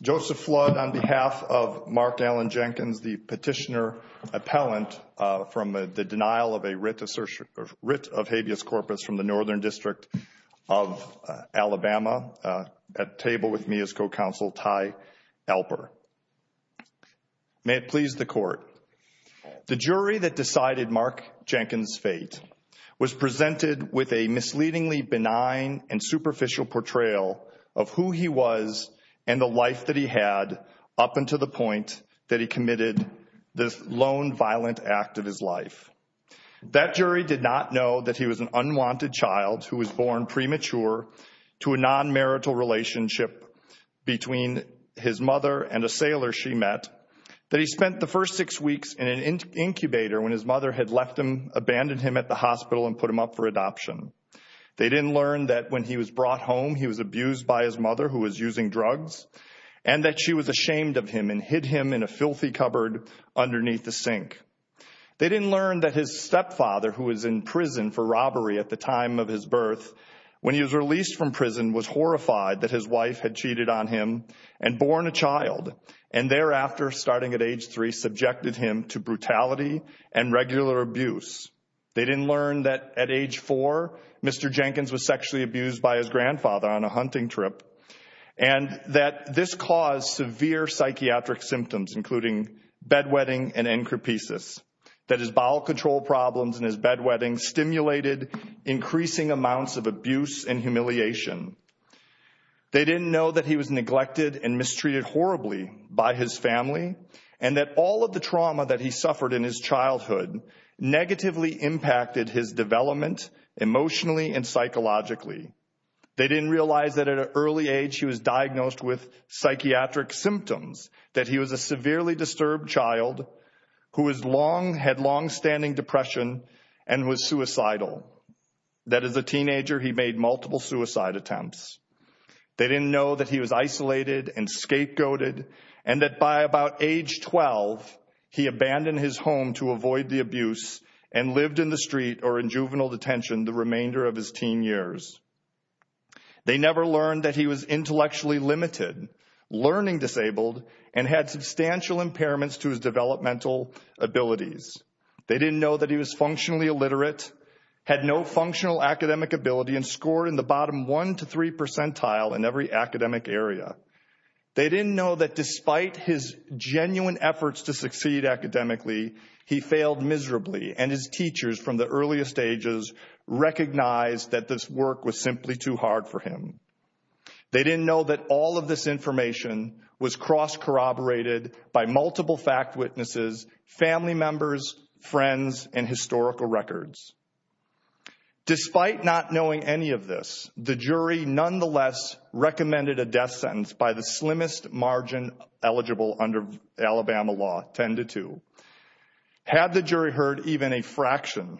Joseph Flood, on behalf of Mark Allen Jenkins, the Petitioner Appellant from the denial of a writ of habeas corpus from the Northern District of Alabama, at table with me is Co-Counsel Ty Alper. May it please the Court, the jury that decided Mark Jenkins' fate was presented with a misleadingly benign and superficial portrayal of who he was and the life that he had up until the point that he committed this lone violent act of his life. That jury did not know that he was an unwanted child who was born premature to a non-marital relationship between his mother and a sailor she met, that he spent the first six weeks in an incubator when his mother had abandoned him at the hospital and put him up for adoption. They didn't learn that when he was brought home he was abused by his mother, who was using drugs, and that she was ashamed of him and hid him in a filthy cupboard underneath the sink. They didn't learn that his stepfather, who was in prison for robbery at the time of his birth, when he was released from prison was horrified that his wife had cheated on him and born a child and thereafter, starting at age three, subjected him to brutality and regular abuse. They didn't learn that at age four, Mr. Jenkins was sexually abused by his grandfather on a hunting trip and that this caused severe psychiatric symptoms, including bedwetting and encrepisis, that his bowel control problems and his bedwetting stimulated increasing amounts of abuse and humiliation. They didn't know that he was neglected and mistreated horribly by his family and that all of the trauma that he suffered in his childhood negatively impacted his development emotionally and psychologically. They didn't realize that at an early age he was diagnosed with psychiatric symptoms, that he was a severely disturbed child who had long-standing depression and was suicidal, that as a teenager he made multiple suicide attempts. They didn't know that he was isolated and scapegoated and that by about age 12, he abandoned his home to avoid the abuse and lived in the street or in juvenile detention the remainder of his teen years. They never learned that he was intellectually limited, learning disabled, and had substantial impairments to his developmental abilities. They didn't know that he was functionally illiterate, had no functional academic ability, and scored in the bottom 1 to 3 percentile in every academic area. They didn't know that despite his genuine efforts to succeed academically, he failed miserably and his teachers from the earliest ages recognized that this work was simply too hard for him. They didn't know that all of this information was cross-corroborated by multiple fact witnesses, family members, friends, and historical records. Despite not knowing any of this, the jury nonetheless recommended a death sentence by the slimmest margin eligible under Alabama law, 10 to 2. Had the jury heard even a fraction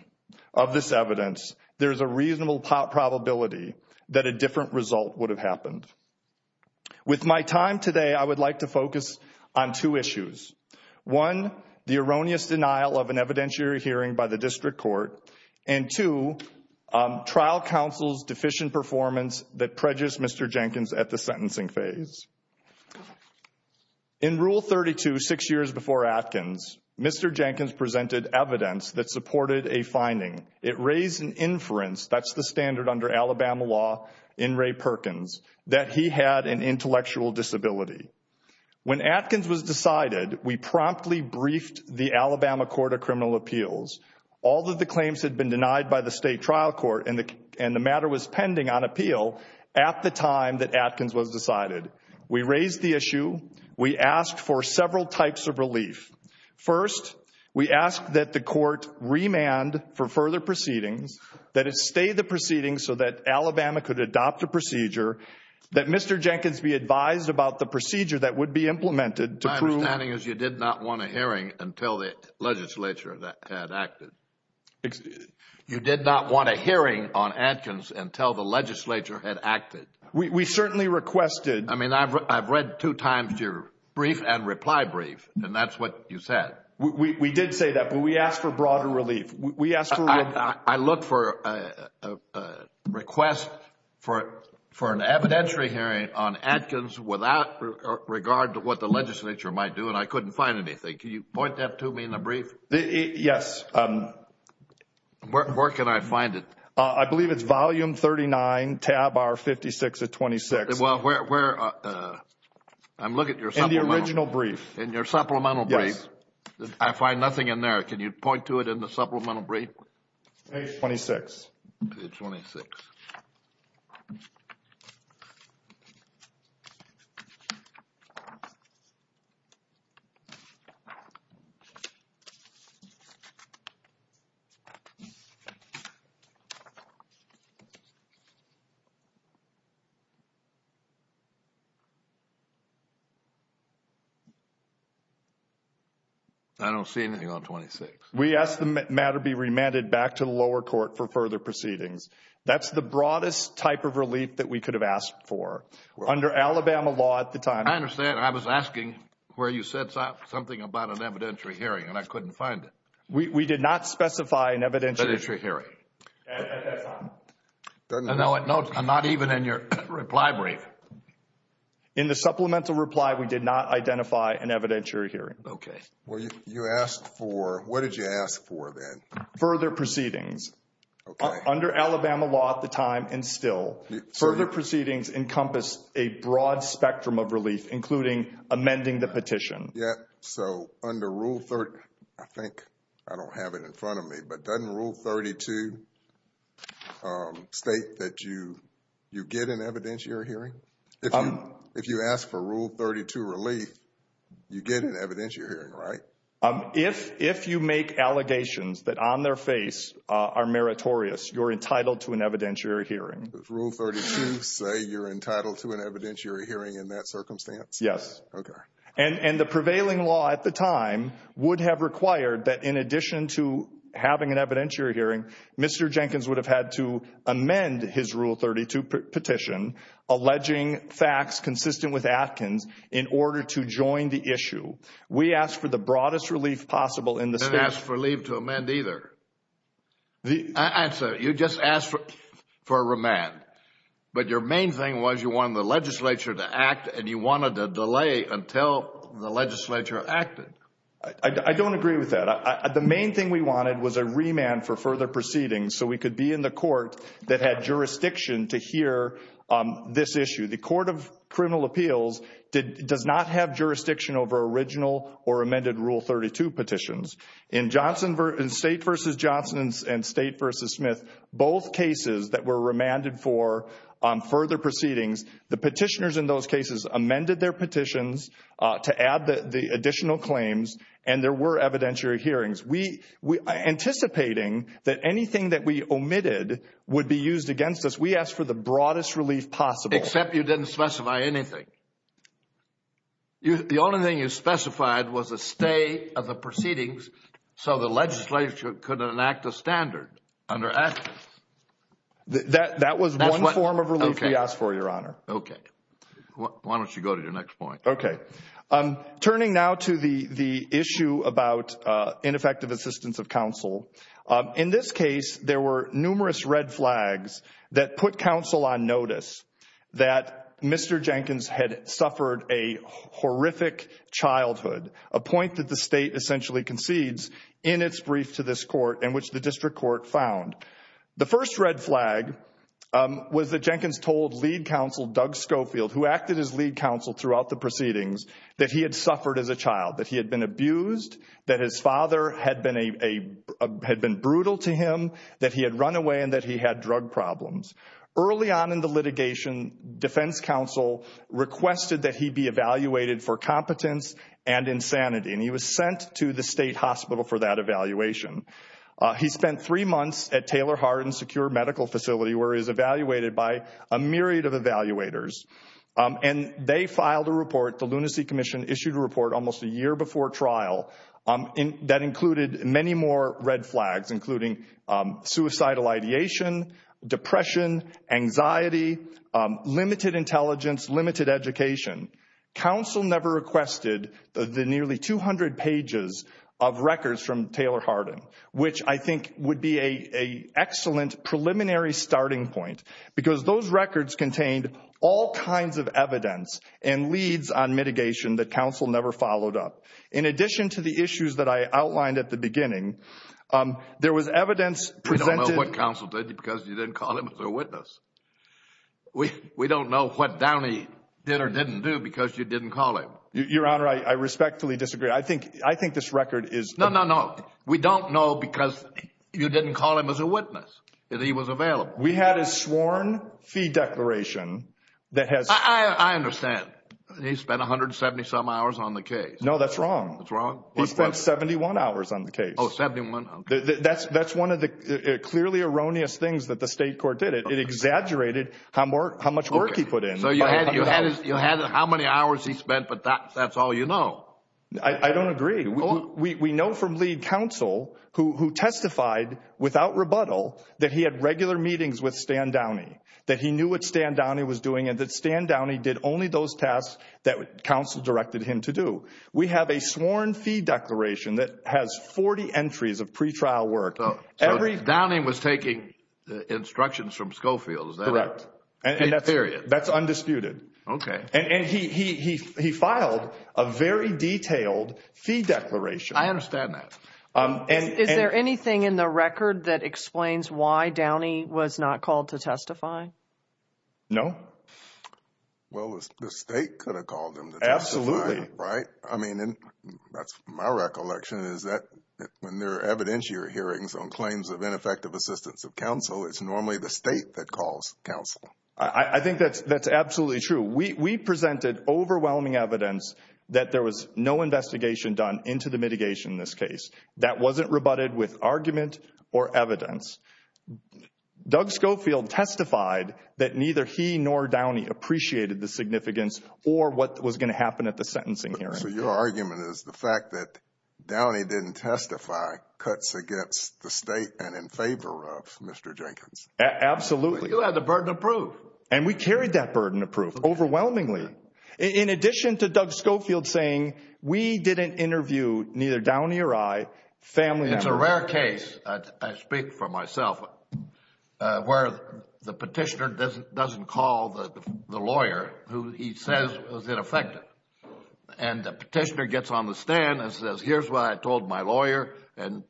of this evidence, there's a reasonable probability that a different result would have happened. With my time today, I would like to focus on two issues. One, the erroneous denial of an evidentiary hearing by the district court, and two, trial counsel's deficient performance that prejudiced Mr. Jenkins at the sentencing phase. In Rule 32, six years before Atkins, Mr. Jenkins presented evidence that supported a finding. It raised an inference, that's the standard under Alabama law in Ray Perkins, that he had an intellectual disability. When Atkins was decided, we promptly briefed the Alabama Court of Criminal Appeals. All of the claims had been denied by the state trial court and the matter was pending on appeal at the time that Atkins was decided. We raised the issue, we asked for several types of relief. First, we asked that the court remand for further proceedings, that it stay the proceedings so that Alabama could adopt the procedure, that Mr. Jenkins be advised about the procedure that would be implemented to prove... My understanding is you did not want a hearing until the legislature had acted. You did not want a hearing on Atkins until the legislature had acted. We certainly requested... I mean, I've read two times your brief and reply brief, and that's what you said. We did say that, but we asked for broader relief. We asked for... I looked for a request for an evidentiary hearing on Atkins without regard to what the legislature might do and I couldn't find anything. Can you point that to me in the brief? Yes. Where can I find it? I believe it's volume 39, tab R56 of 26. Well, where... I'm looking at your supplemental... In the original brief. In your supplemental brief. Yes. I find nothing in there. Can you point to it in the supplemental brief? Page 26. Page 26. I don't see anything on 26. We ask the matter be remanded back to the lower court for further proceedings. That's the broadest type of relief that we could have asked for. Under Alabama law at the time... I understand. I was asking where you said something about an evidentiary hearing and I couldn't find it. We did not specify an evidentiary... Evidentiary hearing. At that time. No, I'm not even in your reply brief. In the supplemental reply, we did not identify an evidentiary hearing. Okay. Well, you asked for... What did you ask for then? Further proceedings. Okay. Under Alabama law at the time and still, further proceedings encompass a broad spectrum of relief, including amending the petition. Yeah. So, under Rule 30... I think I don't have it in front of me, but doesn't Rule 32 state that you get an evidentiary hearing? If you ask for Rule 32 relief, you get an evidentiary hearing, right? If you make allegations that on their face are meritorious, you're entitled to an evidentiary hearing. Does Rule 32 say you're entitled to an evidentiary hearing in that circumstance? Yes. Okay. And the prevailing law at the time would have required that in addition to having an evidentiary hearing, Mr. Jenkins would have had to amend his Rule 32 petition, alleging facts consistent with Atkins, in order to join the issue. We asked for the broadest relief possible in the state... I didn't ask for relief to amend either. I'm sorry. You just asked for a remand. But your main thing was you wanted the legislature to act and you wanted to delay until the legislature acted. I don't agree with that. The main thing we wanted was a remand for further proceedings so we could be in the court that had jurisdiction to hear this issue. The Court of Criminal Appeals does not have jurisdiction over original or amended Rule 32 petitions. In State v. Johnson and State v. Smith, both cases that were remanded for further proceedings, the petitioners in those cases amended their petitions to add the additional claims and there were evidentiary hearings. Anticipating that anything that we omitted would be used against us, we asked for the broadest relief possible. Except you didn't specify anything. The only thing you specified was a stay of the proceedings so the legislature could enact a standard under Act X. That was one form of relief we asked for, Your Honor. Okay. Why don't you go to your next point? Okay. Turning now to the issue about ineffective assistance of counsel. In this case, there were numerous red flags that put counsel on notice that Mr. Jenkins had suffered a horrific childhood, a point that the State essentially concedes in its brief to this Court in which the District Court found. The first red flag was that Jenkins told lead counsel Doug Schofield, who acted as lead counsel throughout the proceedings, that he had suffered as a child, that he had been abused, that his father had been brutal to him, that he had run away and that he had drug problems. Early on in the litigation, defense counsel requested that he be evaluated for competence and insanity. And he was sent to the State Hospital for that evaluation. He spent three months at Taylor Hardin Secure Medical Facility where he was evaluated by a myriad of evaluators. And they filed a report, the Lunacy Commission issued a report almost a year before trial that included many more red flags, including suicidal ideation, depression, anxiety, limited intelligence, limited education. Counsel never requested the nearly 200 pages of records from Taylor Hardin, which I think would be an excellent preliminary starting point because those records contained all kinds of evidence and leads on mitigation that counsel never followed up. In addition to the issues that I outlined at the beginning, there was evidence presented We don't know what counsel did because you didn't call him as a witness. We don't know what Downey did or didn't do because you didn't call him. Your Honor, I respectfully disagree. I think this record is No, no, no. We don't know because you didn't call him as a witness and he was available. We had a sworn fee declaration that has I understand. He spent 170 some hours on the case. No, that's wrong. That's wrong. He spent 71 hours on the case. Oh, 71. That's one of the clearly erroneous things that the state court did. It exaggerated how much work he put in. So you had how many hours he spent, but that's all you know. I don't agree. We know from lead counsel who testified without rebuttal that he had regular meetings with Stan Downey, that he knew what Stan Downey was doing and that Stan Downey did only those We have a sworn fee declaration that has 40 entries of pre-trial work. So Downey was taking instructions from Schofield. Correct. That's undisputed. Okay. And he filed a very detailed fee declaration. I understand that. Is there anything in the record that explains why Downey was not called to testify? No. Well, the state could have called him to testify. Right. I mean, that's my recollection is that when there are evidentiary hearings on claims of ineffective assistance of counsel, it's normally the state that calls counsel. I think that's absolutely true. We presented overwhelming evidence that there was no investigation done into the mitigation in this case. That wasn't rebutted with argument or evidence. Doug Schofield testified that neither he nor Downey appreciated the significance or what was going to happen at the sentencing hearing. So your argument is the fact that Downey didn't testify cuts against the state and in favor of Mr. Jenkins? Absolutely. You had the burden of proof. And we carried that burden of proof overwhelmingly. In addition to Doug Schofield saying we didn't interview neither Downey or I, family members. It's a rare case, I speak for myself, where the petitioner doesn't call the lawyer who he says was ineffective. And the petitioner gets on the stand and says, here's what I told my lawyer. And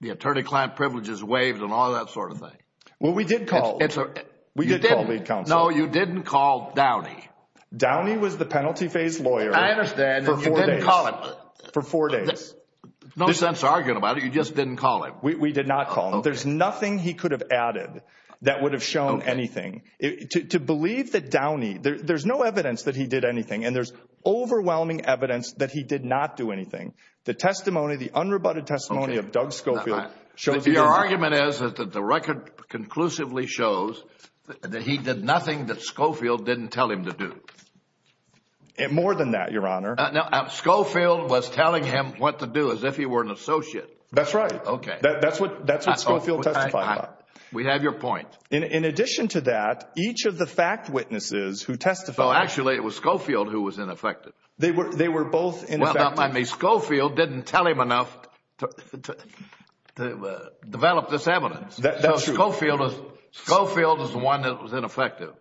the attorney-client privileges waived and all that sort of thing. Well, we did call. We did call lead counsel. No, you didn't call Downey. Downey was the penalty phase lawyer. I understand. For four days. You didn't call him. For four days. No sense arguing about it. You just didn't call him. We did not call him. There's nothing he could have added that would have shown anything. To believe that Downey... There's no evidence that he did anything. And there's overwhelming evidence that he did not do anything. The testimony, the unrebutted testimony of Doug Schofield... Your argument is that the record conclusively shows that he did nothing that Schofield didn't tell him to do. More than that, Your Honor. Schofield was telling him what to do as if he were an associate. That's right. That's what Schofield testified about. We have your point. In addition to that, each of the fact witnesses who testified... Actually, it was Schofield who was ineffective. They were both ineffective. Schofield didn't tell him enough to develop this evidence. That's true. Schofield is the one that was ineffective.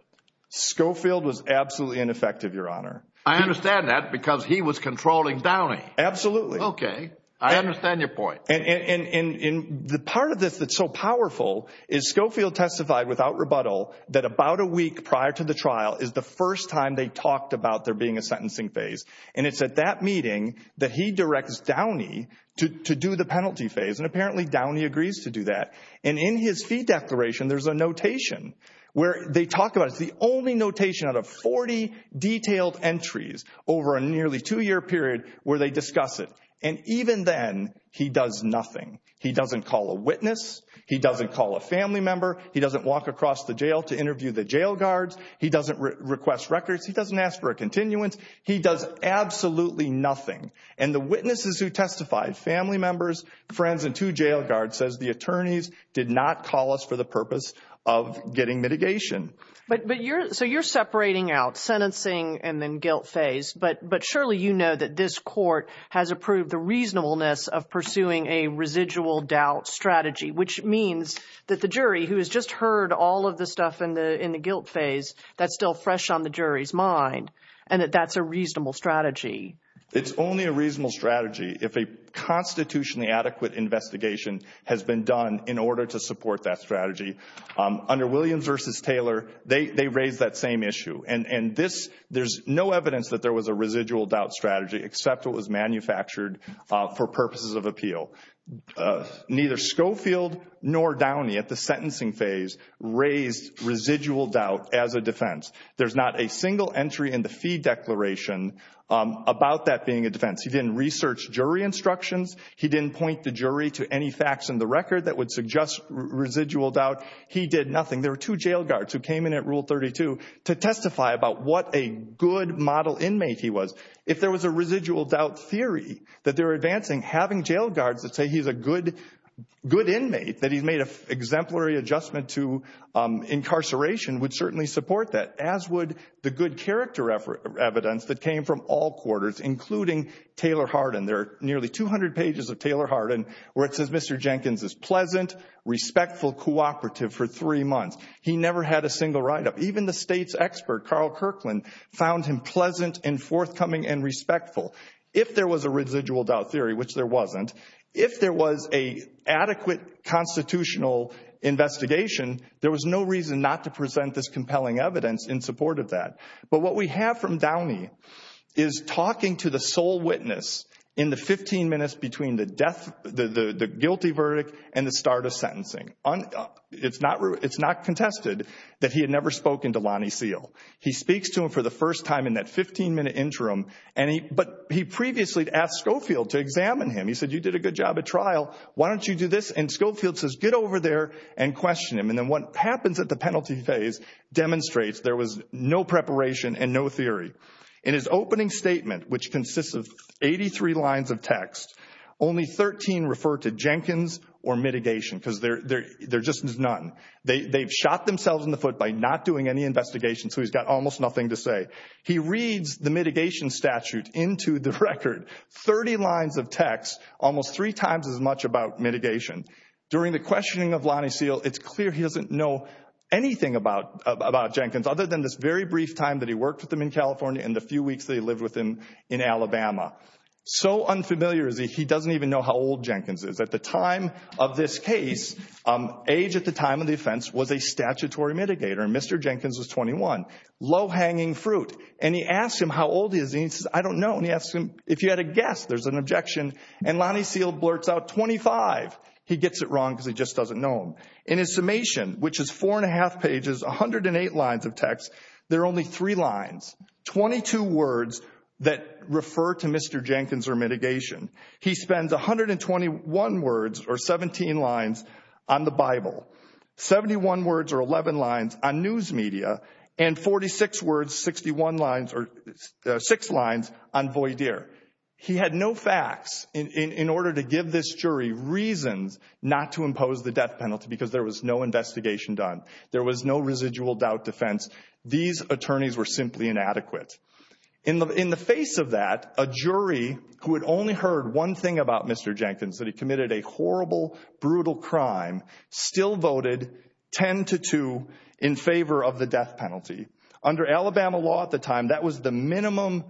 Schofield was absolutely ineffective, Your Honor. I understand that because he was controlling Downey. Absolutely. Okay. I understand your point. And the part of this that's so powerful is Schofield testified without rebuttal that about a week prior to the trial is the first time they talked about there being a sentencing phase. And it's at that meeting that he directs Downey to do the penalty phase. And apparently, Downey agrees to do that. And in his fee declaration, there's a notation where they talk about it. It's the only notation out of 40 detailed entries over a nearly two-year period where they discuss it. And even then, he does nothing. He doesn't call a witness. He doesn't call a family member. He doesn't walk across the jail to interview the jail guards. He doesn't request records. He doesn't ask for a continuance. He does absolutely nothing. And the witnesses who testified, family members, friends, and two jail guards says the attorneys did not call us for the purpose of getting mitigation. But you're... So you're separating out sentencing and then guilt phase. But surely you know that this court has approved the reasonableness of pursuing a residual doubt strategy, which means that the jury, who has just heard all of the stuff in the guilt phase, that's still fresh on the jury's mind, and that that's a reasonable strategy. It's only a reasonable strategy if a constitutionally adequate investigation has been done in order to support that strategy. Under Williams v. Taylor, they raised that same issue. And this... There's no evidence that there was a residual doubt strategy except it was manufactured for purposes of appeal. Neither Schofield nor Downey at the sentencing phase raised residual doubt as a defense. There's not a single entry in the fee declaration about that being a defense. He didn't research jury instructions. He didn't point the jury to any facts in the record that would suggest residual doubt. He did nothing. There were two jail guards who came in at Rule 32 to testify about what a good model inmate he was. If there was a residual doubt theory that they were advancing, having jail guards that say he's a good inmate, that he's made an exemplary adjustment to incarceration, would certainly support that, as would the good character evidence that came from all quarters, including Taylor Hardin. There are nearly 200 pages of Taylor Hardin where it says, Mr. Jenkins is pleasant, respectful, cooperative for three months. He never had a single write-up. Even the state's expert, Carl Kirkland, found him pleasant and forthcoming and respectful. If there was a residual doubt theory, which there wasn't, if there was an adequate constitutional investigation, there was no reason not to present this compelling evidence in support of that. But what we have from Downey is talking to the sole witness in the 15 minutes between the guilty verdict and the start of sentencing. It's not contested that he had never spoken to Lonnie Seal. He speaks to him for the first time in that 15-minute interim, but he previously asked Schofield to examine him. He said, you did a good job at trial. Why don't you do this? And Schofield says, get over there and question him. And then what happens at the penalty phase demonstrates there was no preparation and no theory. In his opening statement, which consists of 83 lines of text, only 13 refer to Jenkins or mitigation because there's just none. They've shot themselves in the foot by not doing any investigation, so he's got almost nothing to say. He reads the mitigation statute into the record, 30 lines of text, almost three times as much about mitigation. During the questioning of Lonnie Seal, it's clear he doesn't know anything about Jenkins other than this very brief time that he worked with him in California and the few weeks that he lived with him in Alabama. So unfamiliar is that he doesn't even know how old Jenkins is. At the time of this case, age at the time of the offense was a statutory mitigator, and Mr. Jenkins was 21. Low-hanging fruit. And he asks him, how old is he? And he says, I don't know. And he asks him, if you had a guess, there's an objection. And Lonnie Seal blurts out 25. He gets it wrong because he just doesn't know him. In his summation, which is four and a half pages, 108 lines of text, there are only three lines, 22 words that refer to Mr. Jenkins or mitigation. He spends 121 words, or 17 lines, on the Bible, 71 words, or 11 lines, on news media, and 46 words, 61 lines, or six lines, on Voydier. He had no facts in order to give this jury reasons not to impose the death penalty because there was no investigation done. There was no residual doubt defense. These attorneys were simply inadequate. In the face of that, a jury who had only heard one thing about Mr. Jenkins, that he committed a horrible, brutal crime, still voted 10 to 2 in favor of the death penalty. Under Alabama law at the time, that was the minimum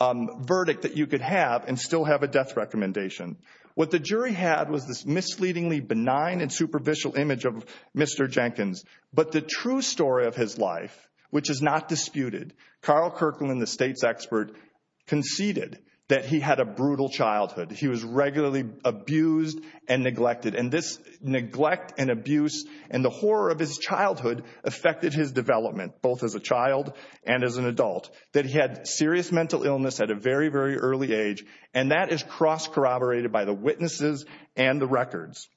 verdict that you could have and still have a death recommendation. What the jury had was this misleadingly benign and superficial image of Mr. Jenkins. But the true story of his life, which is not disputed, Carl Kirkland, the state's expert, conceded that he had a brutal childhood. He was regularly abused and neglected. And this neglect and abuse and the horror of his childhood affected his development, both as a child and as an adult, that he had serious mental illness at a very, very early age. And that is cross-corroborated by the witnesses and the records.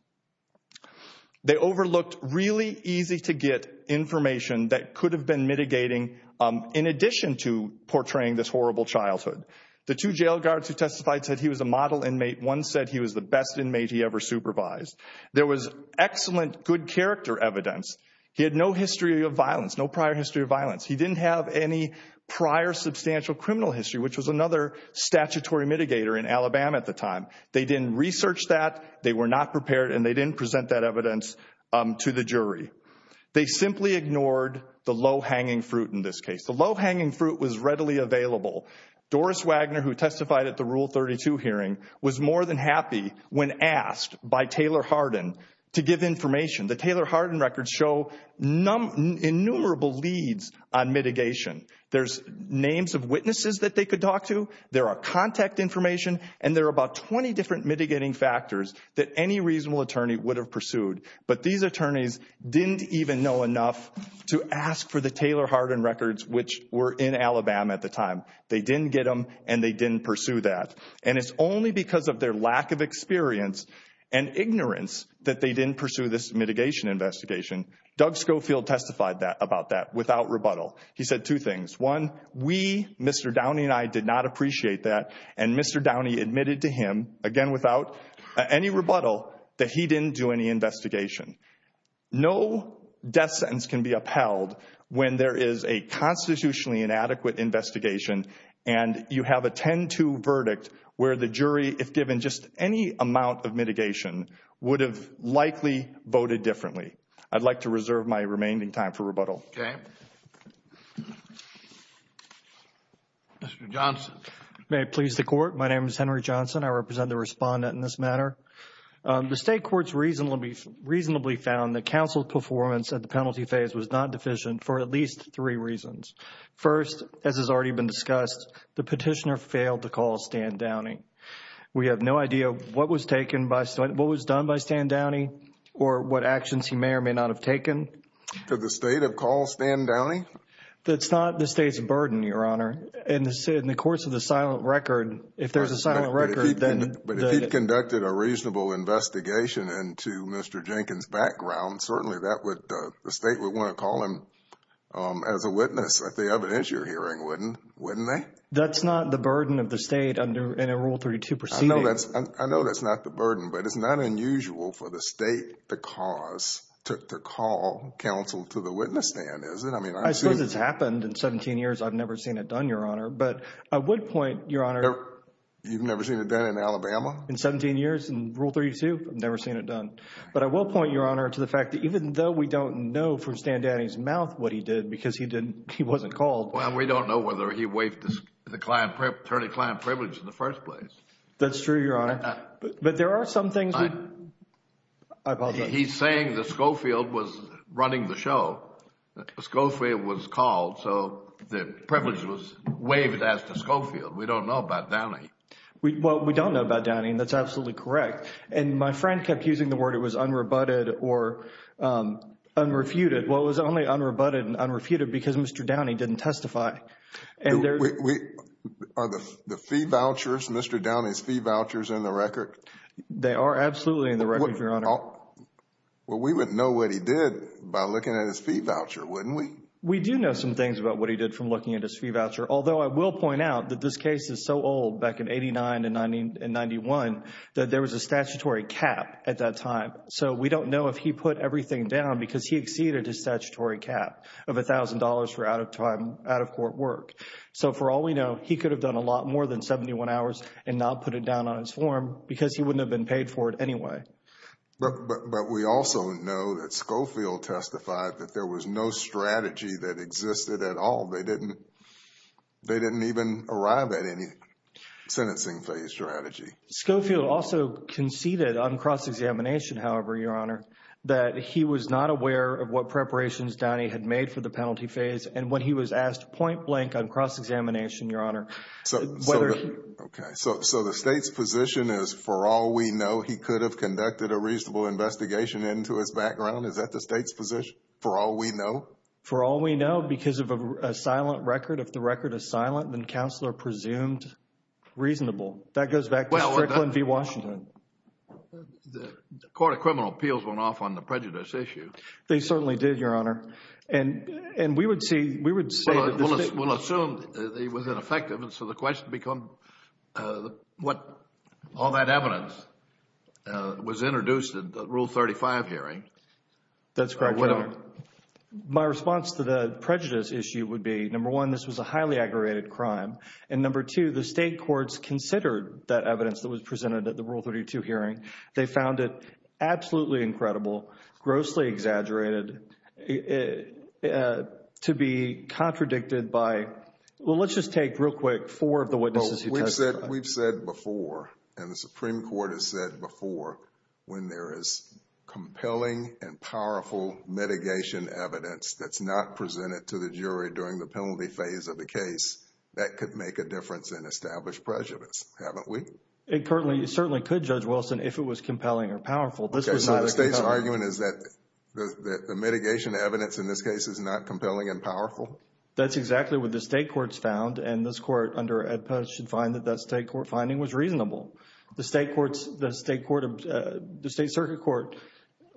They overlooked really easy-to-get information that could have been mitigating in addition to portraying this horrible childhood. The two jail guards who testified said he was a model inmate. One said he was the best inmate he ever supervised. There was excellent, good character evidence. He had no history of violence, no prior history of violence. He didn't have any prior substantial criminal history, which was another statutory mitigator in Alabama at the time. They didn't research that. They were not prepared. And they didn't present that evidence to the jury. They simply ignored the low-hanging fruit in this case. The low-hanging fruit was readily available. Doris Wagner, who testified at the Rule 32 hearing, was more than happy when asked by Taylor Hardin to give information. The Taylor Hardin records show innumerable leads on mitigation. There's names of witnesses that they could talk to, there are contact information, and there are about 20 different mitigating factors that any reasonable attorney would have pursued. But these attorneys didn't even know enough to ask for the Taylor Hardin records, which were in Alabama at the time. They didn't get them, and they didn't pursue that. And it's only because of their lack of experience and ignorance that they didn't pursue this mitigation investigation. Doug Schofield testified about that without rebuttal. He said two things. One, we, Mr. Downey and I, did not appreciate that. And Mr. Downey admitted to him, again without any rebuttal, that he didn't do any investigation. No death sentence can be upheld when there is a constitutionally inadequate investigation and you have a 10-2 verdict where the jury, if given just any amount of mitigation, would have likely voted differently. I'd like to reserve my remaining time for rebuttal. Okay. Mr. Johnson. May it please the Court. My name is Henry Johnson. I represent the respondent in this matter. The State Court's reason will be reasonably found that counsel's performance at the penalty phase was not deficient for at least three reasons. First, as has already been discussed, the petitioner failed to call Stan Downey. We have no idea what was taken by, what was done by Stan Downey or what actions he may or may not have taken. Could the State have called Stan Downey? That's not the State's burden, Your Honor. In the course of the silent record, if there's a silent record, then the But if he conducted a reasonable investigation into Mr. Jenkins' background, certainly that would, the State would want to call him as a witness if they evidence your hearing, wouldn't they? That's not the burden of the State in a Rule 32 proceeding. I know that's not the burden, but it's not unusual for the State to cause, to call counsel to the witness stand, is it? I suppose it's happened. In 17 years, I've never seen it done, Your Honor. But I would point, Your Honor. You've never seen it done in Alabama? In 17 years in Rule 32, I've never seen it done. But I will point, Your Honor, to the fact that even though we don't know from Stan Downey's mouth what he did because he wasn't called. Well, we don't know whether he waived the attorney-client privilege in the first place. That's true, Your Honor. But there are some things. I apologize. He's saying that Schofield was running the show. Schofield was called, so the privilege was waived as to Schofield. We don't know about Downey. Well, we don't know about Downey, and that's absolutely correct. And my friend kept using the word it was unrebutted or unrefuted. Well, it was only unrebutted and unrefuted because Mr. Downey didn't testify. Are the fee vouchers, Mr. Downey's fee vouchers, in the record? They are absolutely in the record, Your Honor. Well, we wouldn't know what he did by looking at his fee voucher, wouldn't we? We do know some things about what he did from looking at his fee voucher, although I will point out that this case is so old, back in 89 and 91, that there was a statutory cap at that time. So we don't know if he put everything down because he exceeded his statutory cap of $1,000 for out-of-court work. So for all we know, he could have done a lot more than 71 hours and not put it down on his form because he wouldn't have been paid for it anyway. But we also know that Schofield testified that there was no strategy that existed at all. They didn't even arrive at any sentencing-phase strategy. Schofield also conceded on cross-examination, however, Your Honor, that he was not aware of what preparations Downey had made for the penalty phase, and when he was asked point-blank on cross-examination, Your Honor, whether he... Okay, so the State's position is, for all we know, he could have conducted a reasonable investigation into his background? Is that the State's position, for all we know? For all we know, because of a silent record. If the record is silent, then Counselor presumed reasonable. That goes back to Strickland v. Washington. The Court of Criminal Appeals went off on the prejudice issue. They certainly did, Your Honor. And we would say that the State... Well, we'll assume that he was ineffective, and so the question becomes what... All that evidence was introduced at the Rule 35 hearing. That's correct, Your Honor. My response to the prejudice issue would be, number one, this was a highly aggravated crime, and number two, the State courts considered that evidence that was presented at the Rule 32 hearing. They found it absolutely incredible, grossly exaggerated, to be contradicted by... Well, let's just take, real quick, four of the witnesses who testified. We've said before, and the Supreme Court has said before, when there is compelling and powerful mitigation evidence that's not presented to the jury during the penalty phase of the case, that could make a difference in established prejudice, haven't we? It certainly could, Judge Wilson, if it was compelling or powerful. Okay, so the State's argument is that the mitigation evidence, in this case, is not compelling and powerful? That's exactly what the State courts found, and this Court, under AEDPA, should find that that State court finding was reasonable. The State Circuit Court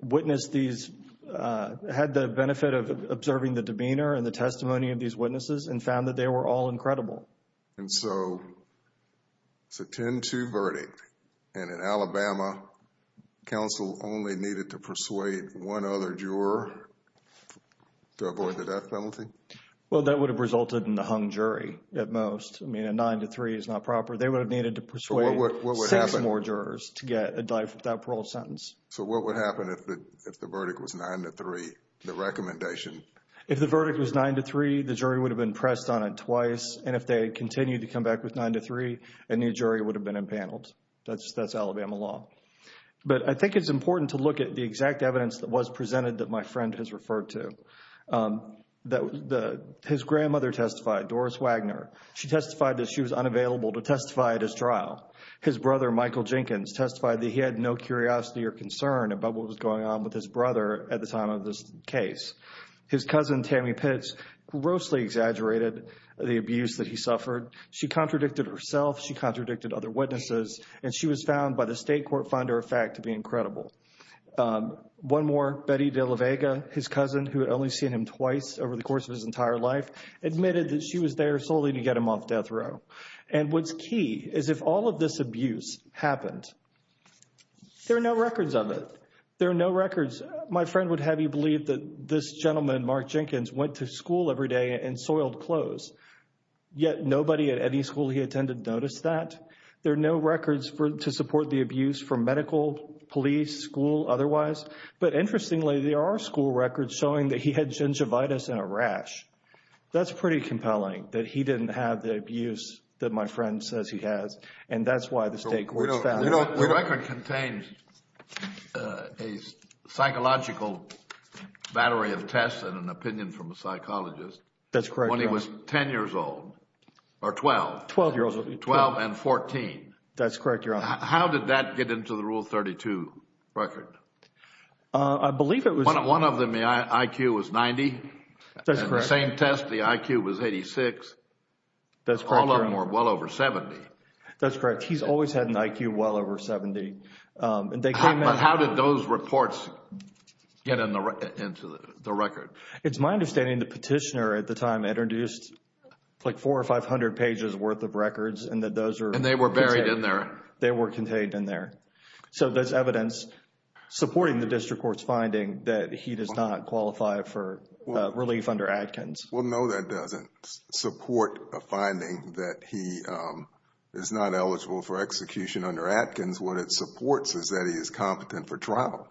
witnessed these... had the benefit of observing the demeanor and the testimony of these witnesses and found that they were all incredible. And so, it's a 10-2 verdict, and in Alabama, counsel only needed to persuade one other juror to avoid the death penalty? Well, that would have resulted in the hung jury, at most. I mean, a 9-3 is not proper. They would have needed to persuade six more jurors to get a death without parole sentence. So what would happen if the verdict was 9-3, the recommendation? If the verdict was 9-3, the jury would have been pressed on it twice, and if they continued to come back with 9-3, a new jury would have been impaneled. That's Alabama law. But I think it's important to look at the exact evidence that was presented that my friend has referred to. His grandmother testified, Doris Wagner. She testified that she was unavailable to testify at his trial. His brother, Michael Jenkins, testified that he had no curiosity or concern about what was going on with his brother at the time of this case. His cousin, Tammy Pitts, grossly exaggerated the abuse that he suffered. She contradicted herself, she contradicted other witnesses, and she was found by the state court finder of fact to be incredible. One more, Betty DeLaVega, his cousin who had only seen him twice over the course of his entire life, admitted that she was there solely to get him off death row. And what's key is if all of this abuse happened, there are no records of it. There are no records. My friend would have you believe that this gentleman, Mark Jenkins, went to school every day and soiled clothes. Yet nobody at any school he attended noticed that. There are no records to support the abuse from medical, police, school, otherwise. But interestingly, there are school records showing that he had gingivitis and a rash. That's pretty compelling that my friend says he has. And that's why the state court found it. The record contains a psychological battery of tests and an opinion from a psychologist when he was 10 years old. Or 12. 12 and 14. That's correct, Your Honor. How did that get into the Rule 32 record? I believe it was... One of them, the IQ was 90. That's correct. And the same test, the IQ was 86. All of them were well over 70. That's correct. He's always had an IQ well over 70. But how did those reports get into the record? It's my understanding the petitioner at the time introduced like 400 or 500 pages worth of records and that those were... And they were buried in there. They were contained in there. So there's evidence supporting the district court's finding that he does not qualify for relief under Adkins. Well, no, that doesn't support a finding that he is not eligible for execution under Adkins. What it supports is that he is competent for trial.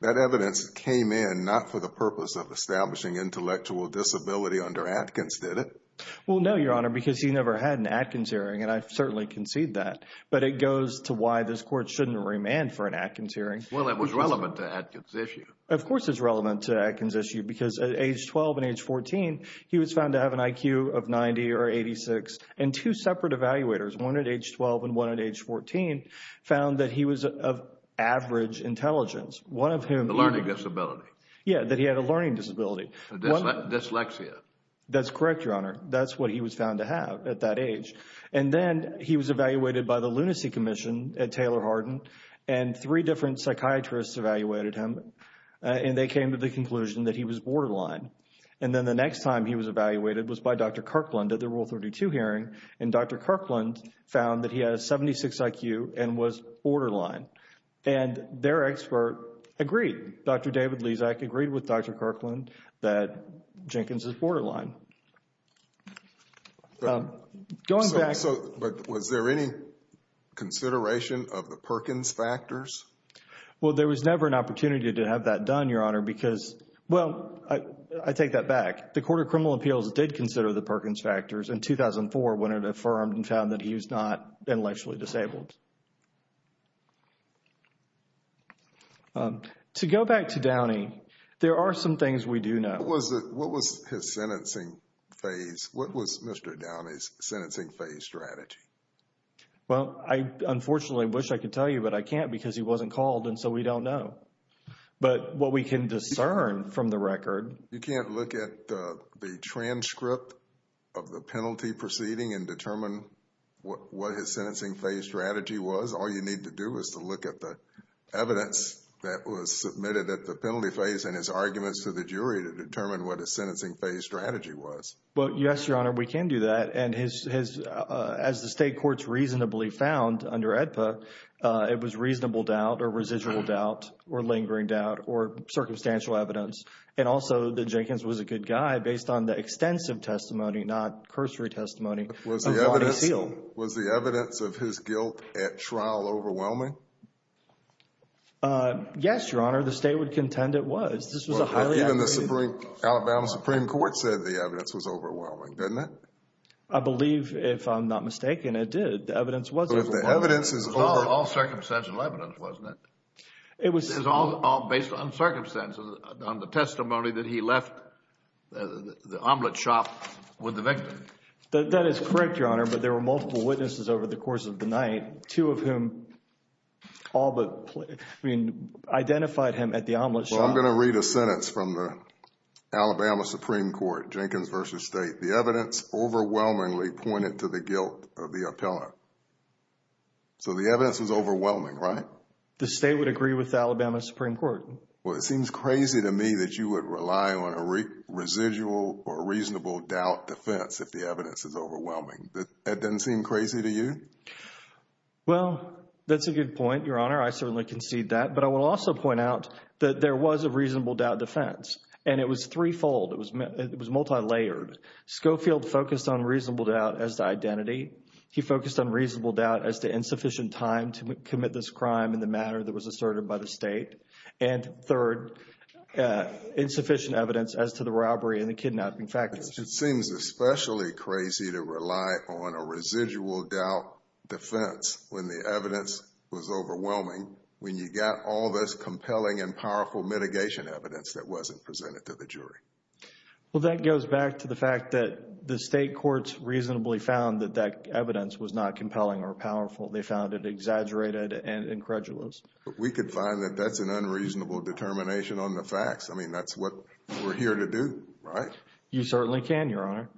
That evidence came in not for the purpose of establishing intellectual disability under Adkins, did it? Well, no, Your Honor, because he never had an Adkins hearing and I've certainly conceded that. But it goes to why this court shouldn't remand for an Adkins hearing. Well, it was relevant to Adkins' issue. Of course it's relevant to Adkins' issue because at age 12 and age 14 he was found to have an IQ of 90 or 86 and two separate evaluators, one at age 12 and one at age 14, found that he was of average intelligence. One of whom... A learning disability. Yeah, that he had a learning disability. Dyslexia. That's correct, Your Honor. That's what he was found to have at that age. And then he was evaluated by the Lunacy Commission at Taylor Hardin and three different psychiatrists evaluated him and they came to the conclusion that he was at the time he was evaluated was by Dr. Kirkland at the Rule 32 hearing and Dr. Kirkland found that he had a 76 IQ and was borderline. And their expert agreed. Dr. David Lezak agreed with Dr. Kirkland that Jenkins is borderline. Going back... So, but was there any consideration of the Perkins factors? Well, there was never an opportunity to have that done, Your Honor, because... Well, I take that back. The Court of Criminal Appeals did consider the Perkins factors in 2004 when it affirmed and found that he was not intellectually disabled. To go back to Downey, there are some things we do know. What was his sentencing phase? What was Mr. Downey's sentencing phase strategy? Well, I unfortunately wish I could tell you, but I can't because he wasn't called and so we don't know. But what we can discern from the record... You can't look at the transcript of the penalty proceeding and determine what his sentencing phase strategy was. All you need to do is to look at the evidence that was submitted at the penalty phase and his arguments to the jury to determine what his sentencing phase strategy was. Well, yes, Your Honor, we can do that. And his... As the state courts reasonably found under AEDPA, it was reasonable doubt or residual doubt or lingering doubt or circumstantial evidence and also that Jenkins was a good guy based on the extensive testimony not cursory testimony Was the evidence of his guilt at trial overwhelming? Yes, Your Honor. The state would contend it was. This was a highly... Even the Supreme Alabama Supreme Court said the evidence was overwhelming, didn't it? I believe, if I'm not mistaken, it did. The evidence was overwhelming. All circumstantial evidence, wasn't it? It was all based on circumstances on the testimony that he left the omelet shop with the victim. That is correct, Your Honor, but there were multiple witnesses over the course of the night, two of whom all but identified him at the omelet shop. Well, I'm going to read a sentence from the Alabama Supreme Court Jenkins v. State. The evidence overwhelmingly pointed to the guilt of the appellant. So the evidence was overwhelming, right? The state would agree with the Alabama Supreme Court. Well, it seems crazy to me that you would rely on a residual or reasonable doubt defense if the evidence is overwhelming. That doesn't seem crazy to you? Well, that's a good point, Your Honor. I certainly concede that, but I will also point out that there was a reasonable doubt defense and it was threefold. It was multi-layered. Schofield focused on reasonable doubt as to identity. He focused on reasonable doubt as to insufficient time to commit this crime in the manner that was asserted by the state and, third, insufficient evidence as to the robbery and the kidnapping factors. It seems especially crazy to rely on a residual doubt defense when the evidence was overwhelming, when you got all this compelling and powerful mitigation evidence that wasn't presented to the jury. Well, that goes back to the fact that the state courts reasonably found that that evidence was not compelling or powerful. They found it exaggerated and incredulous. But we could find that that's an unreasonable determination on the facts. I mean, that's what we're here to do, right? You certainly can, Your Honor.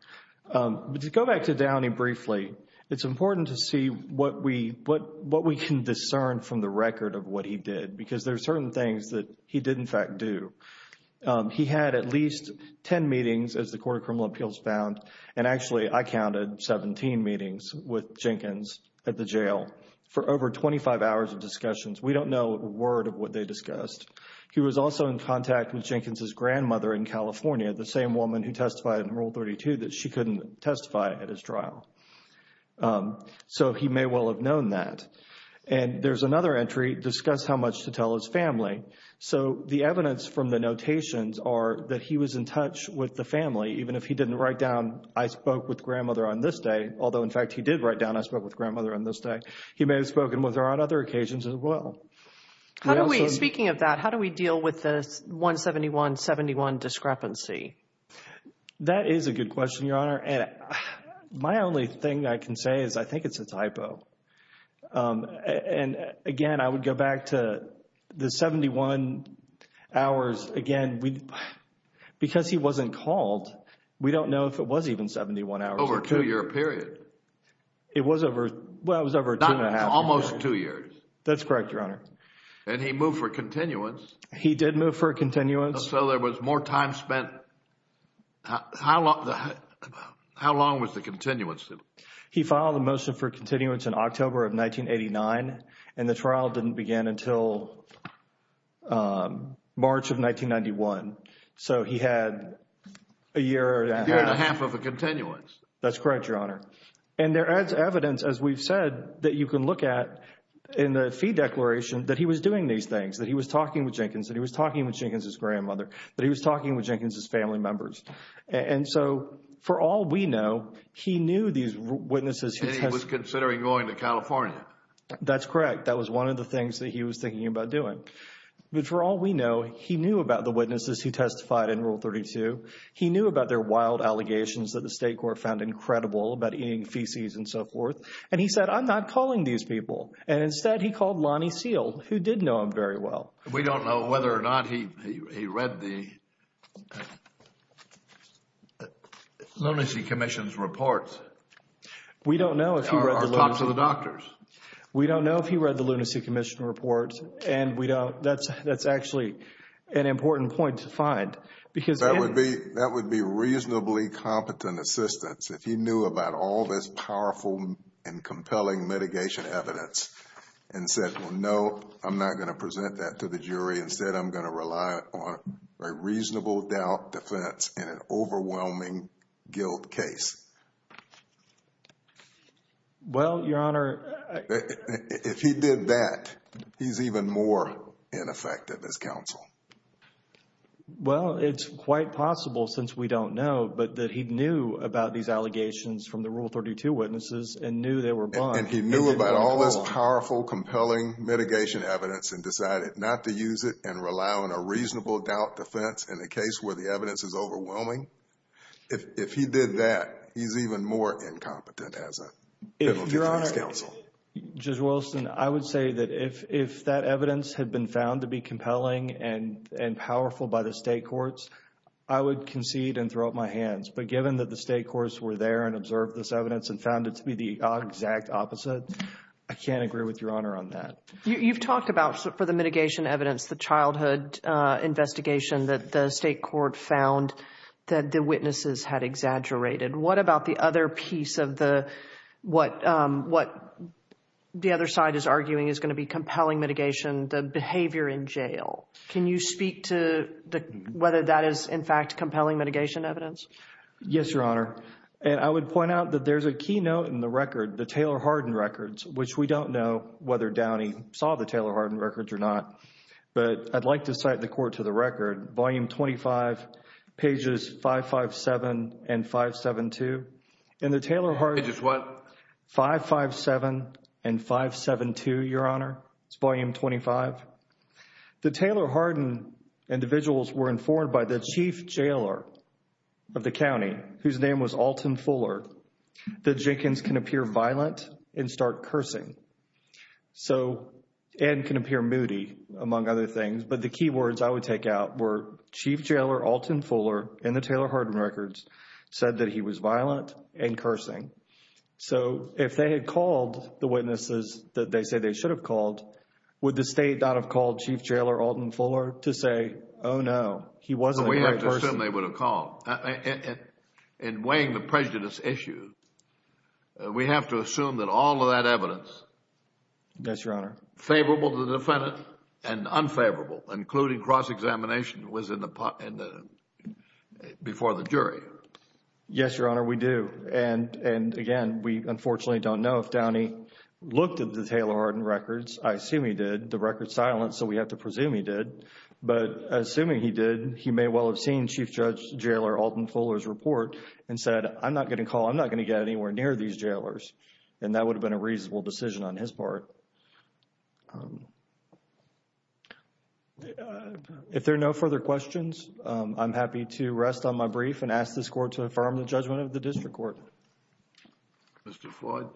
But to go back to Downey briefly, it's important to see what we can discern from the record of what he did because there are certain things that he did in fact do. He had at least 10 meetings, as the Court of Criminal Appeals found, and actually I counted 17 meetings with Jenkins at the jail for over 25 hours of discussions. We don't know a word of what they discussed. He was also in contact with Jenkins' grandmother in California, the same woman who testified in Rule 32 that she couldn't testify at his trial. So he may well have known that. And there's another entry, discuss how much to tell his family. So the fact that he was in touch with the family, even if he didn't write down, I spoke with grandmother on this day, although in fact he did write down, I spoke with grandmother on this day, he may have spoken with her on other occasions as well. How do we, speaking of that, how do we deal with the 171-71 discrepancy? That is a good question, Your Honor. And my only thing I can say is I think it's a typo. And again, I would go back to the 71 hours. Again, because he wasn't called, we don't know if it was even 71 hours. Over a two-year period? It was over, well, it was over two and a half years. Not almost two years. That's correct, Your Honor. And he moved for a continuance? He did move for a continuance. So there was more time spent, how long was the continuance? He filed a motion for continuance in October of 1989 and the trial didn't begin until March of 1991. So he had a year and a half. A year and a half of a continuance. That's correct, Your Honor. And there is evidence, as we've said, that you can look at in the fee declaration that he was doing these things, that he was talking with Jenkins, that he was talking with Jenkins' grandmother, that he was talking with Jenkins' family members. And so for all we know, he knew these witnesses. He was considering going to California. That's correct. That was one of the things that he was thinking about doing. But for all we know, he knew about the witnesses who testified in Rule 32. He knew about their wild allegations that the state court found incredible about eating feces and so forth. And he said, I'm not calling these people. And instead, he called Lonnie Seale, who did know him very well. We don't know whether or not he read the lunacy commission's reports. We don't know if he read the lunacy commission's reports. We don't know if he read the lunacy commission's reports. And that's actually an important point to find. That would be reasonably competent assistance if he knew about all this powerful and compelling mitigation evidence and said, no, I'm not going to present that to the jury. Instead, I'm going to rely on a reasonable doubt defense in an overwhelming guilt case. Well, Your Honor... If he did that, he's even more ineffective as counsel. Well, it's quite possible, since we don't know, but that he knew about these allegations from the Rule 32 witnesses and knew they were blunt. And he knew about all this powerful, compelling mitigation evidence and decided not to use it and rely on a reasonable doubt defense in a case where the evidence is overwhelming. If he did that, he's even more incompetent as a federal defense counsel. Your Honor, Judge Wilson, I would say that if that evidence had been found to be compelling and powerful by the state courts, I would concede and throw up my hands. But given that the state courts were there and observed this evidence and found it to be the exact opposite, I can't agree with Your Honor on that. You've talked about, for the mitigation evidence, the childhood investigation that the state court found that the witnesses had exaggerated. What about the other piece of what the other side is arguing is going to be compelling mitigation, the behavior in jail? Can you speak to whether that is, in fact, compelling mitigation evidence? Yes, Your Honor. I would point out that there's a key note in the record, the Taylor-Hardin records, which we don't know whether Downey saw the Taylor-Hardin records or not. But I'd like to cite the court to the record, Volume 25, pages 557 and 572. And the Taylor-Hardin... Pages what? 557 and 572, Your Honor. It's Volume 25. The Taylor- Hardin individuals were informed by the chief jailer of the county, whose name was Alton Fuller, that Jenkins can appear violent and start cursing. So and can appear moody, among other things. But the key words I would take out were, Chief Jailer Alton Fuller in the Taylor-Hardin records said that he was violent and cursing. So if they had called the witnesses that they said they should have called, would the state not have called Chief Jailer Alton Fuller to say, oh no, he wasn't a great person? We have to assume they would have called. In weighing the prejudice issue, we have to assume that all of that evidence was favorable to the defendant and unfavorable, including cross-examination was in the before the jury. Yes, Your Honor, we do. And again, we unfortunately don't know if Downey looked at the Taylor-Hardin records. I assume he did. The record is silent, so we have to presume he did. But assuming he did, he may well have seen Chief Jailer Alton Fuller's report and said, I'm not going to call. I'm not going to get anywhere near these jailers. And that would have been a reasonable decision on his part. If there are no further questions, I'm happy to rest on my brief and ask this Court to affirm the judgment of the District Court. Mr. Floyd?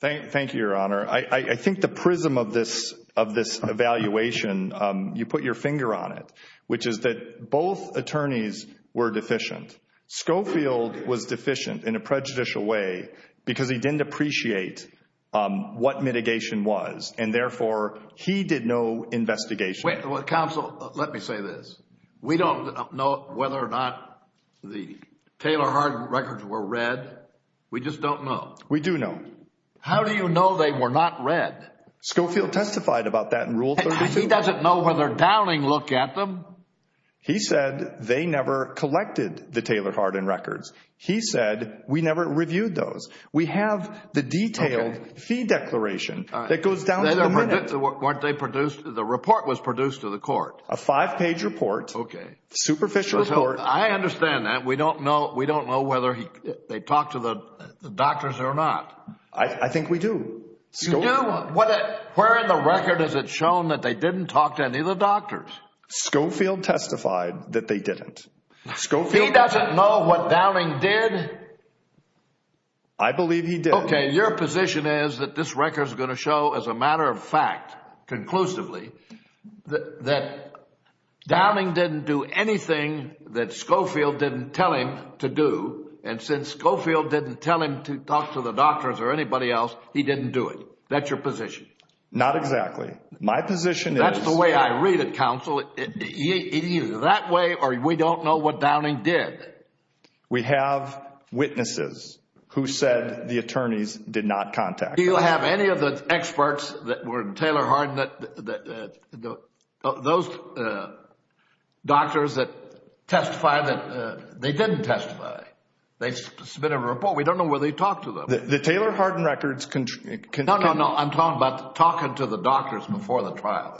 Thank you, Your Honor. I think the prism of this evaluation, you put your finger on it, which is that both attorneys were deficient. Schofield was deficient in a prejudicial way because he didn't appreciate what mitigation was, and therefore he did no investigation. Counsel, let me say this. We don't know whether or not the Taylor-Hardin records were read. We just don't know. We do know. How do you know they were not read? Schofield testified about that in Rule 32. He doesn't know whether Downey looked at them. He said they never collected the Taylor-Hardin records. He said we never reviewed those. We have the detailed fee declaration that goes down to the minute. The report was produced to the Court. A five-page report. Superficial report. I understand that. We don't know whether they talked to the doctors or not. I think we do. Where in the record has it shown that they didn't talk to any of the doctors? Schofield testified that they didn't. He doesn't know what Downing did? I believe he did. Okay, your position is that this record is going to show as a matter of fact conclusively that Downing didn't do anything that Schofield didn't tell him to do and since Schofield didn't tell him to talk to the doctors or anybody else he didn't do it. That's your position. Not exactly. My position That's the way I read it, Counsel. Either that way or we don't know what Downing did. We have witnesses who said the attorneys did not contact them. Do you have any of the experts that were in Taylor Harden that those doctors that testified that they didn't testify. They submitted a report. We don't know whether they talked to them. The Taylor Harden records No, no, no. I'm talking about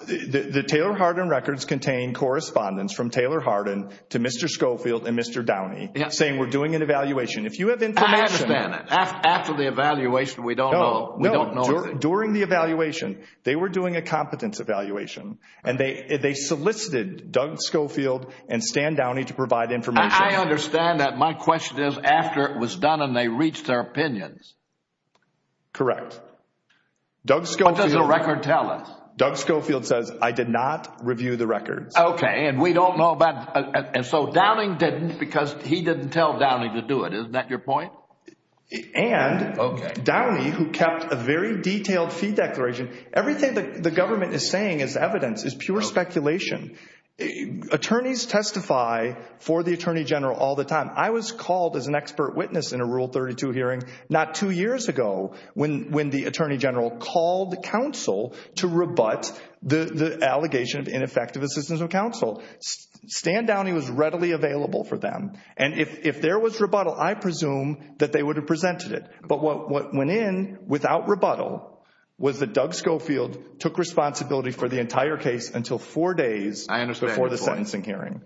The Taylor Harden records contain correspondence from Taylor Harden to Mr. Schofield and Mr. Downing saying we're doing an evaluation. If you have information. I understand. After the evaluation we don't know. No. During the evaluation, they were doing a competence evaluation and they solicited Doug Schofield and Stan Downing to provide information. I understand that. My question is after it was done and they reached their opinions. Correct. Doug Schofield What does the record tell us? Doug Schofield says I did not review the records. Okay. And we don't know about and so Downing didn't because he didn't tell Downing to do it. Isn't that your point? And Downing who kept a very detailed fee declaration. Everything the government is saying is evidence. It's pure speculation. Attorneys testify for the Attorney General all the time. I was called as an expert witness in a Rule 32 hearing not two years ago when the Attorney General called counsel to rebut the allegation of ineffective assistance of counsel. Stan Downing was readily available for them and if there was rebuttal, I presume that they would have presented it. But what went in without rebuttal was that Doug Schofield took responsibility for the entire case until four days before the sentencing hearing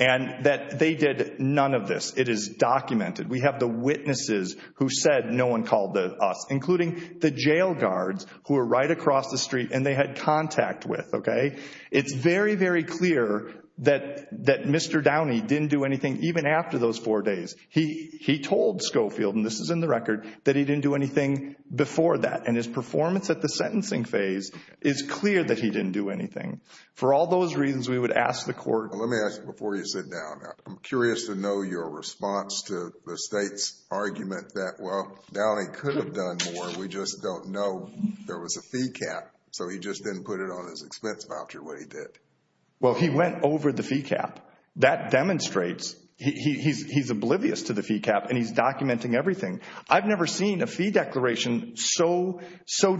and that they did none of this. It is documented. We have the witnesses who said no one called us including the jail guards who were right across the street and they had contact with. Okay. It's very, very clear that Mr. Downing didn't do anything even after those four days. He told Schofield, and this is in the record, that he didn't do anything before that and his performance at the sentencing phase is clear that he didn't do anything. For all those reasons, we would ask the court... Let me ask you before you sit down I'm curious to know your response to the state's argument that, well, Downing could have done more we just don't know. There was a fee cap, so he just didn't put it on his expense voucher what he did. Well, he went over the fee cap. That demonstrates he's oblivious to the fee cap and he's documenting everything. I've never seen a fee declaration so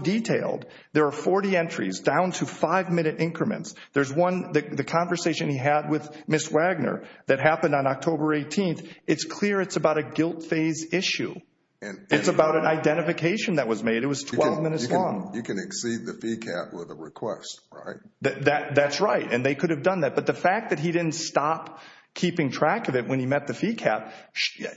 detailed. There are 40 entries down to five minute increments. There's one, the conversation he had with Ms. Wagner that happened on October 18th. It's clear it's about a guilt phase issue. It's about an identification that was made. It was 12 minutes long. You can exceed the fee cap with a request, right? That's right, and they could have done that, but the fact that he didn't stop keeping track of it when he met the fee cap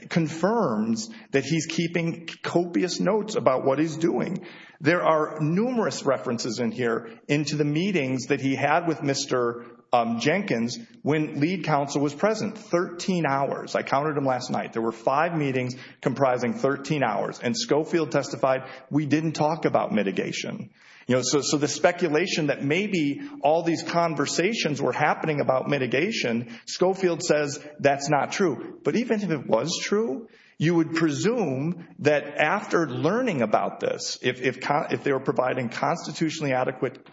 confirms that he's keeping copious notes about what he's doing. There are numerous references in here into the meetings that he had with Mr. Jenkins when lead counsel was present. 13 hours. I counted them last night. There were five meetings comprising 13 hours, and Schofield testified we didn't talk about mitigation. So the speculation that maybe all these conversations were happening about mitigation, Schofield says that's not true. But even if it was true, you would presume that after learning about this, if they were providing constitutionally adequate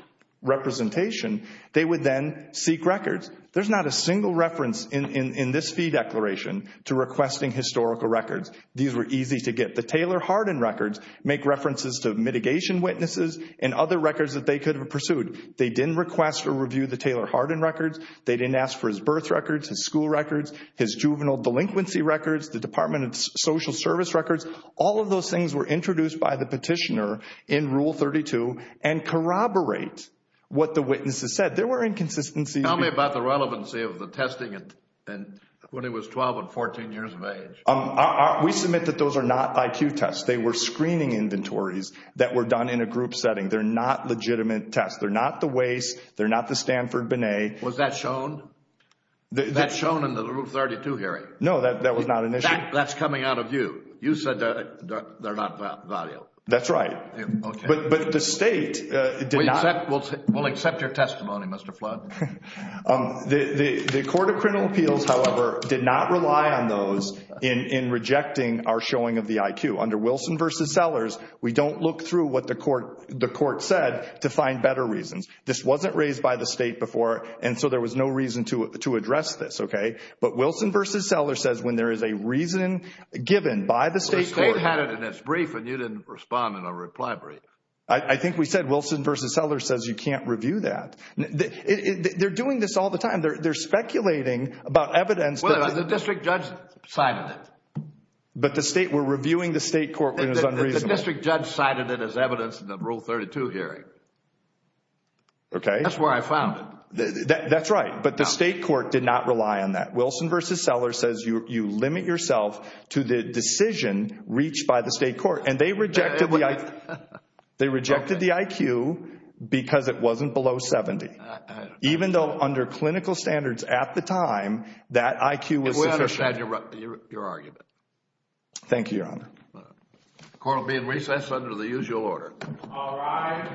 representation, they would then seek records. There's not a single reference in this fee declaration to requesting historical records. These were easy to get. The Taylor-Hardin records make references to mitigation witnesses and other records that they could have pursued. They didn't request or review the Taylor-Hardin records. They didn't ask for his birth records, his school records, his juvenile delinquency records, the Department of Social Service records. All of those things were introduced by the petitioner in Rule 32 and corroborate what the witnesses said. There were inconsistencies. Tell me about the relevancy of the testing when he was 12 and 14 years of age. We submit that those are not IQ tests. They were screening inventories that were done in a group setting. They're not legitimate tests. They're not the WACE. They're not the Stanford-Binet. Was that shown? That's shown in the Rule 32 hearing. No, that was not an issue. That's coming out of you. You said they're not valuable. That's right. But the state did not... We'll accept your testimony, Mr. Flood. The Court of Criminal Appeals, however, did not rely on those in rejecting our showing of the IQ. Under Wilson v. Sellers, we don't look through what the court said to find better reasons. This wasn't raised by the state before, and so there was no reason to address this, okay? But Wilson v. Sellers says when there is a reason given by the state... The state had it in its brief, and you didn't respond in a reply brief. I think we said Wilson v. Sellers says you can't review that. They're doing this all the time. They're speculating about evidence... Well, the district judge cited it. But the state... We're reviewing the state court when it was unreasonable. The district judge cited it as evidence in the Rule 32 hearing. Okay. That's where I found it. That's right. But the state court did not rely on that. Wilson v. Sellers says you limit yourself to the decision reached by the state court, and they rejected the IQ because it wasn't below 70, even though under clinical standards at the time that IQ was sufficient. We understand your argument. Thank you, Your Honor. Court will be in recess under the usual order. All rise. Thank you.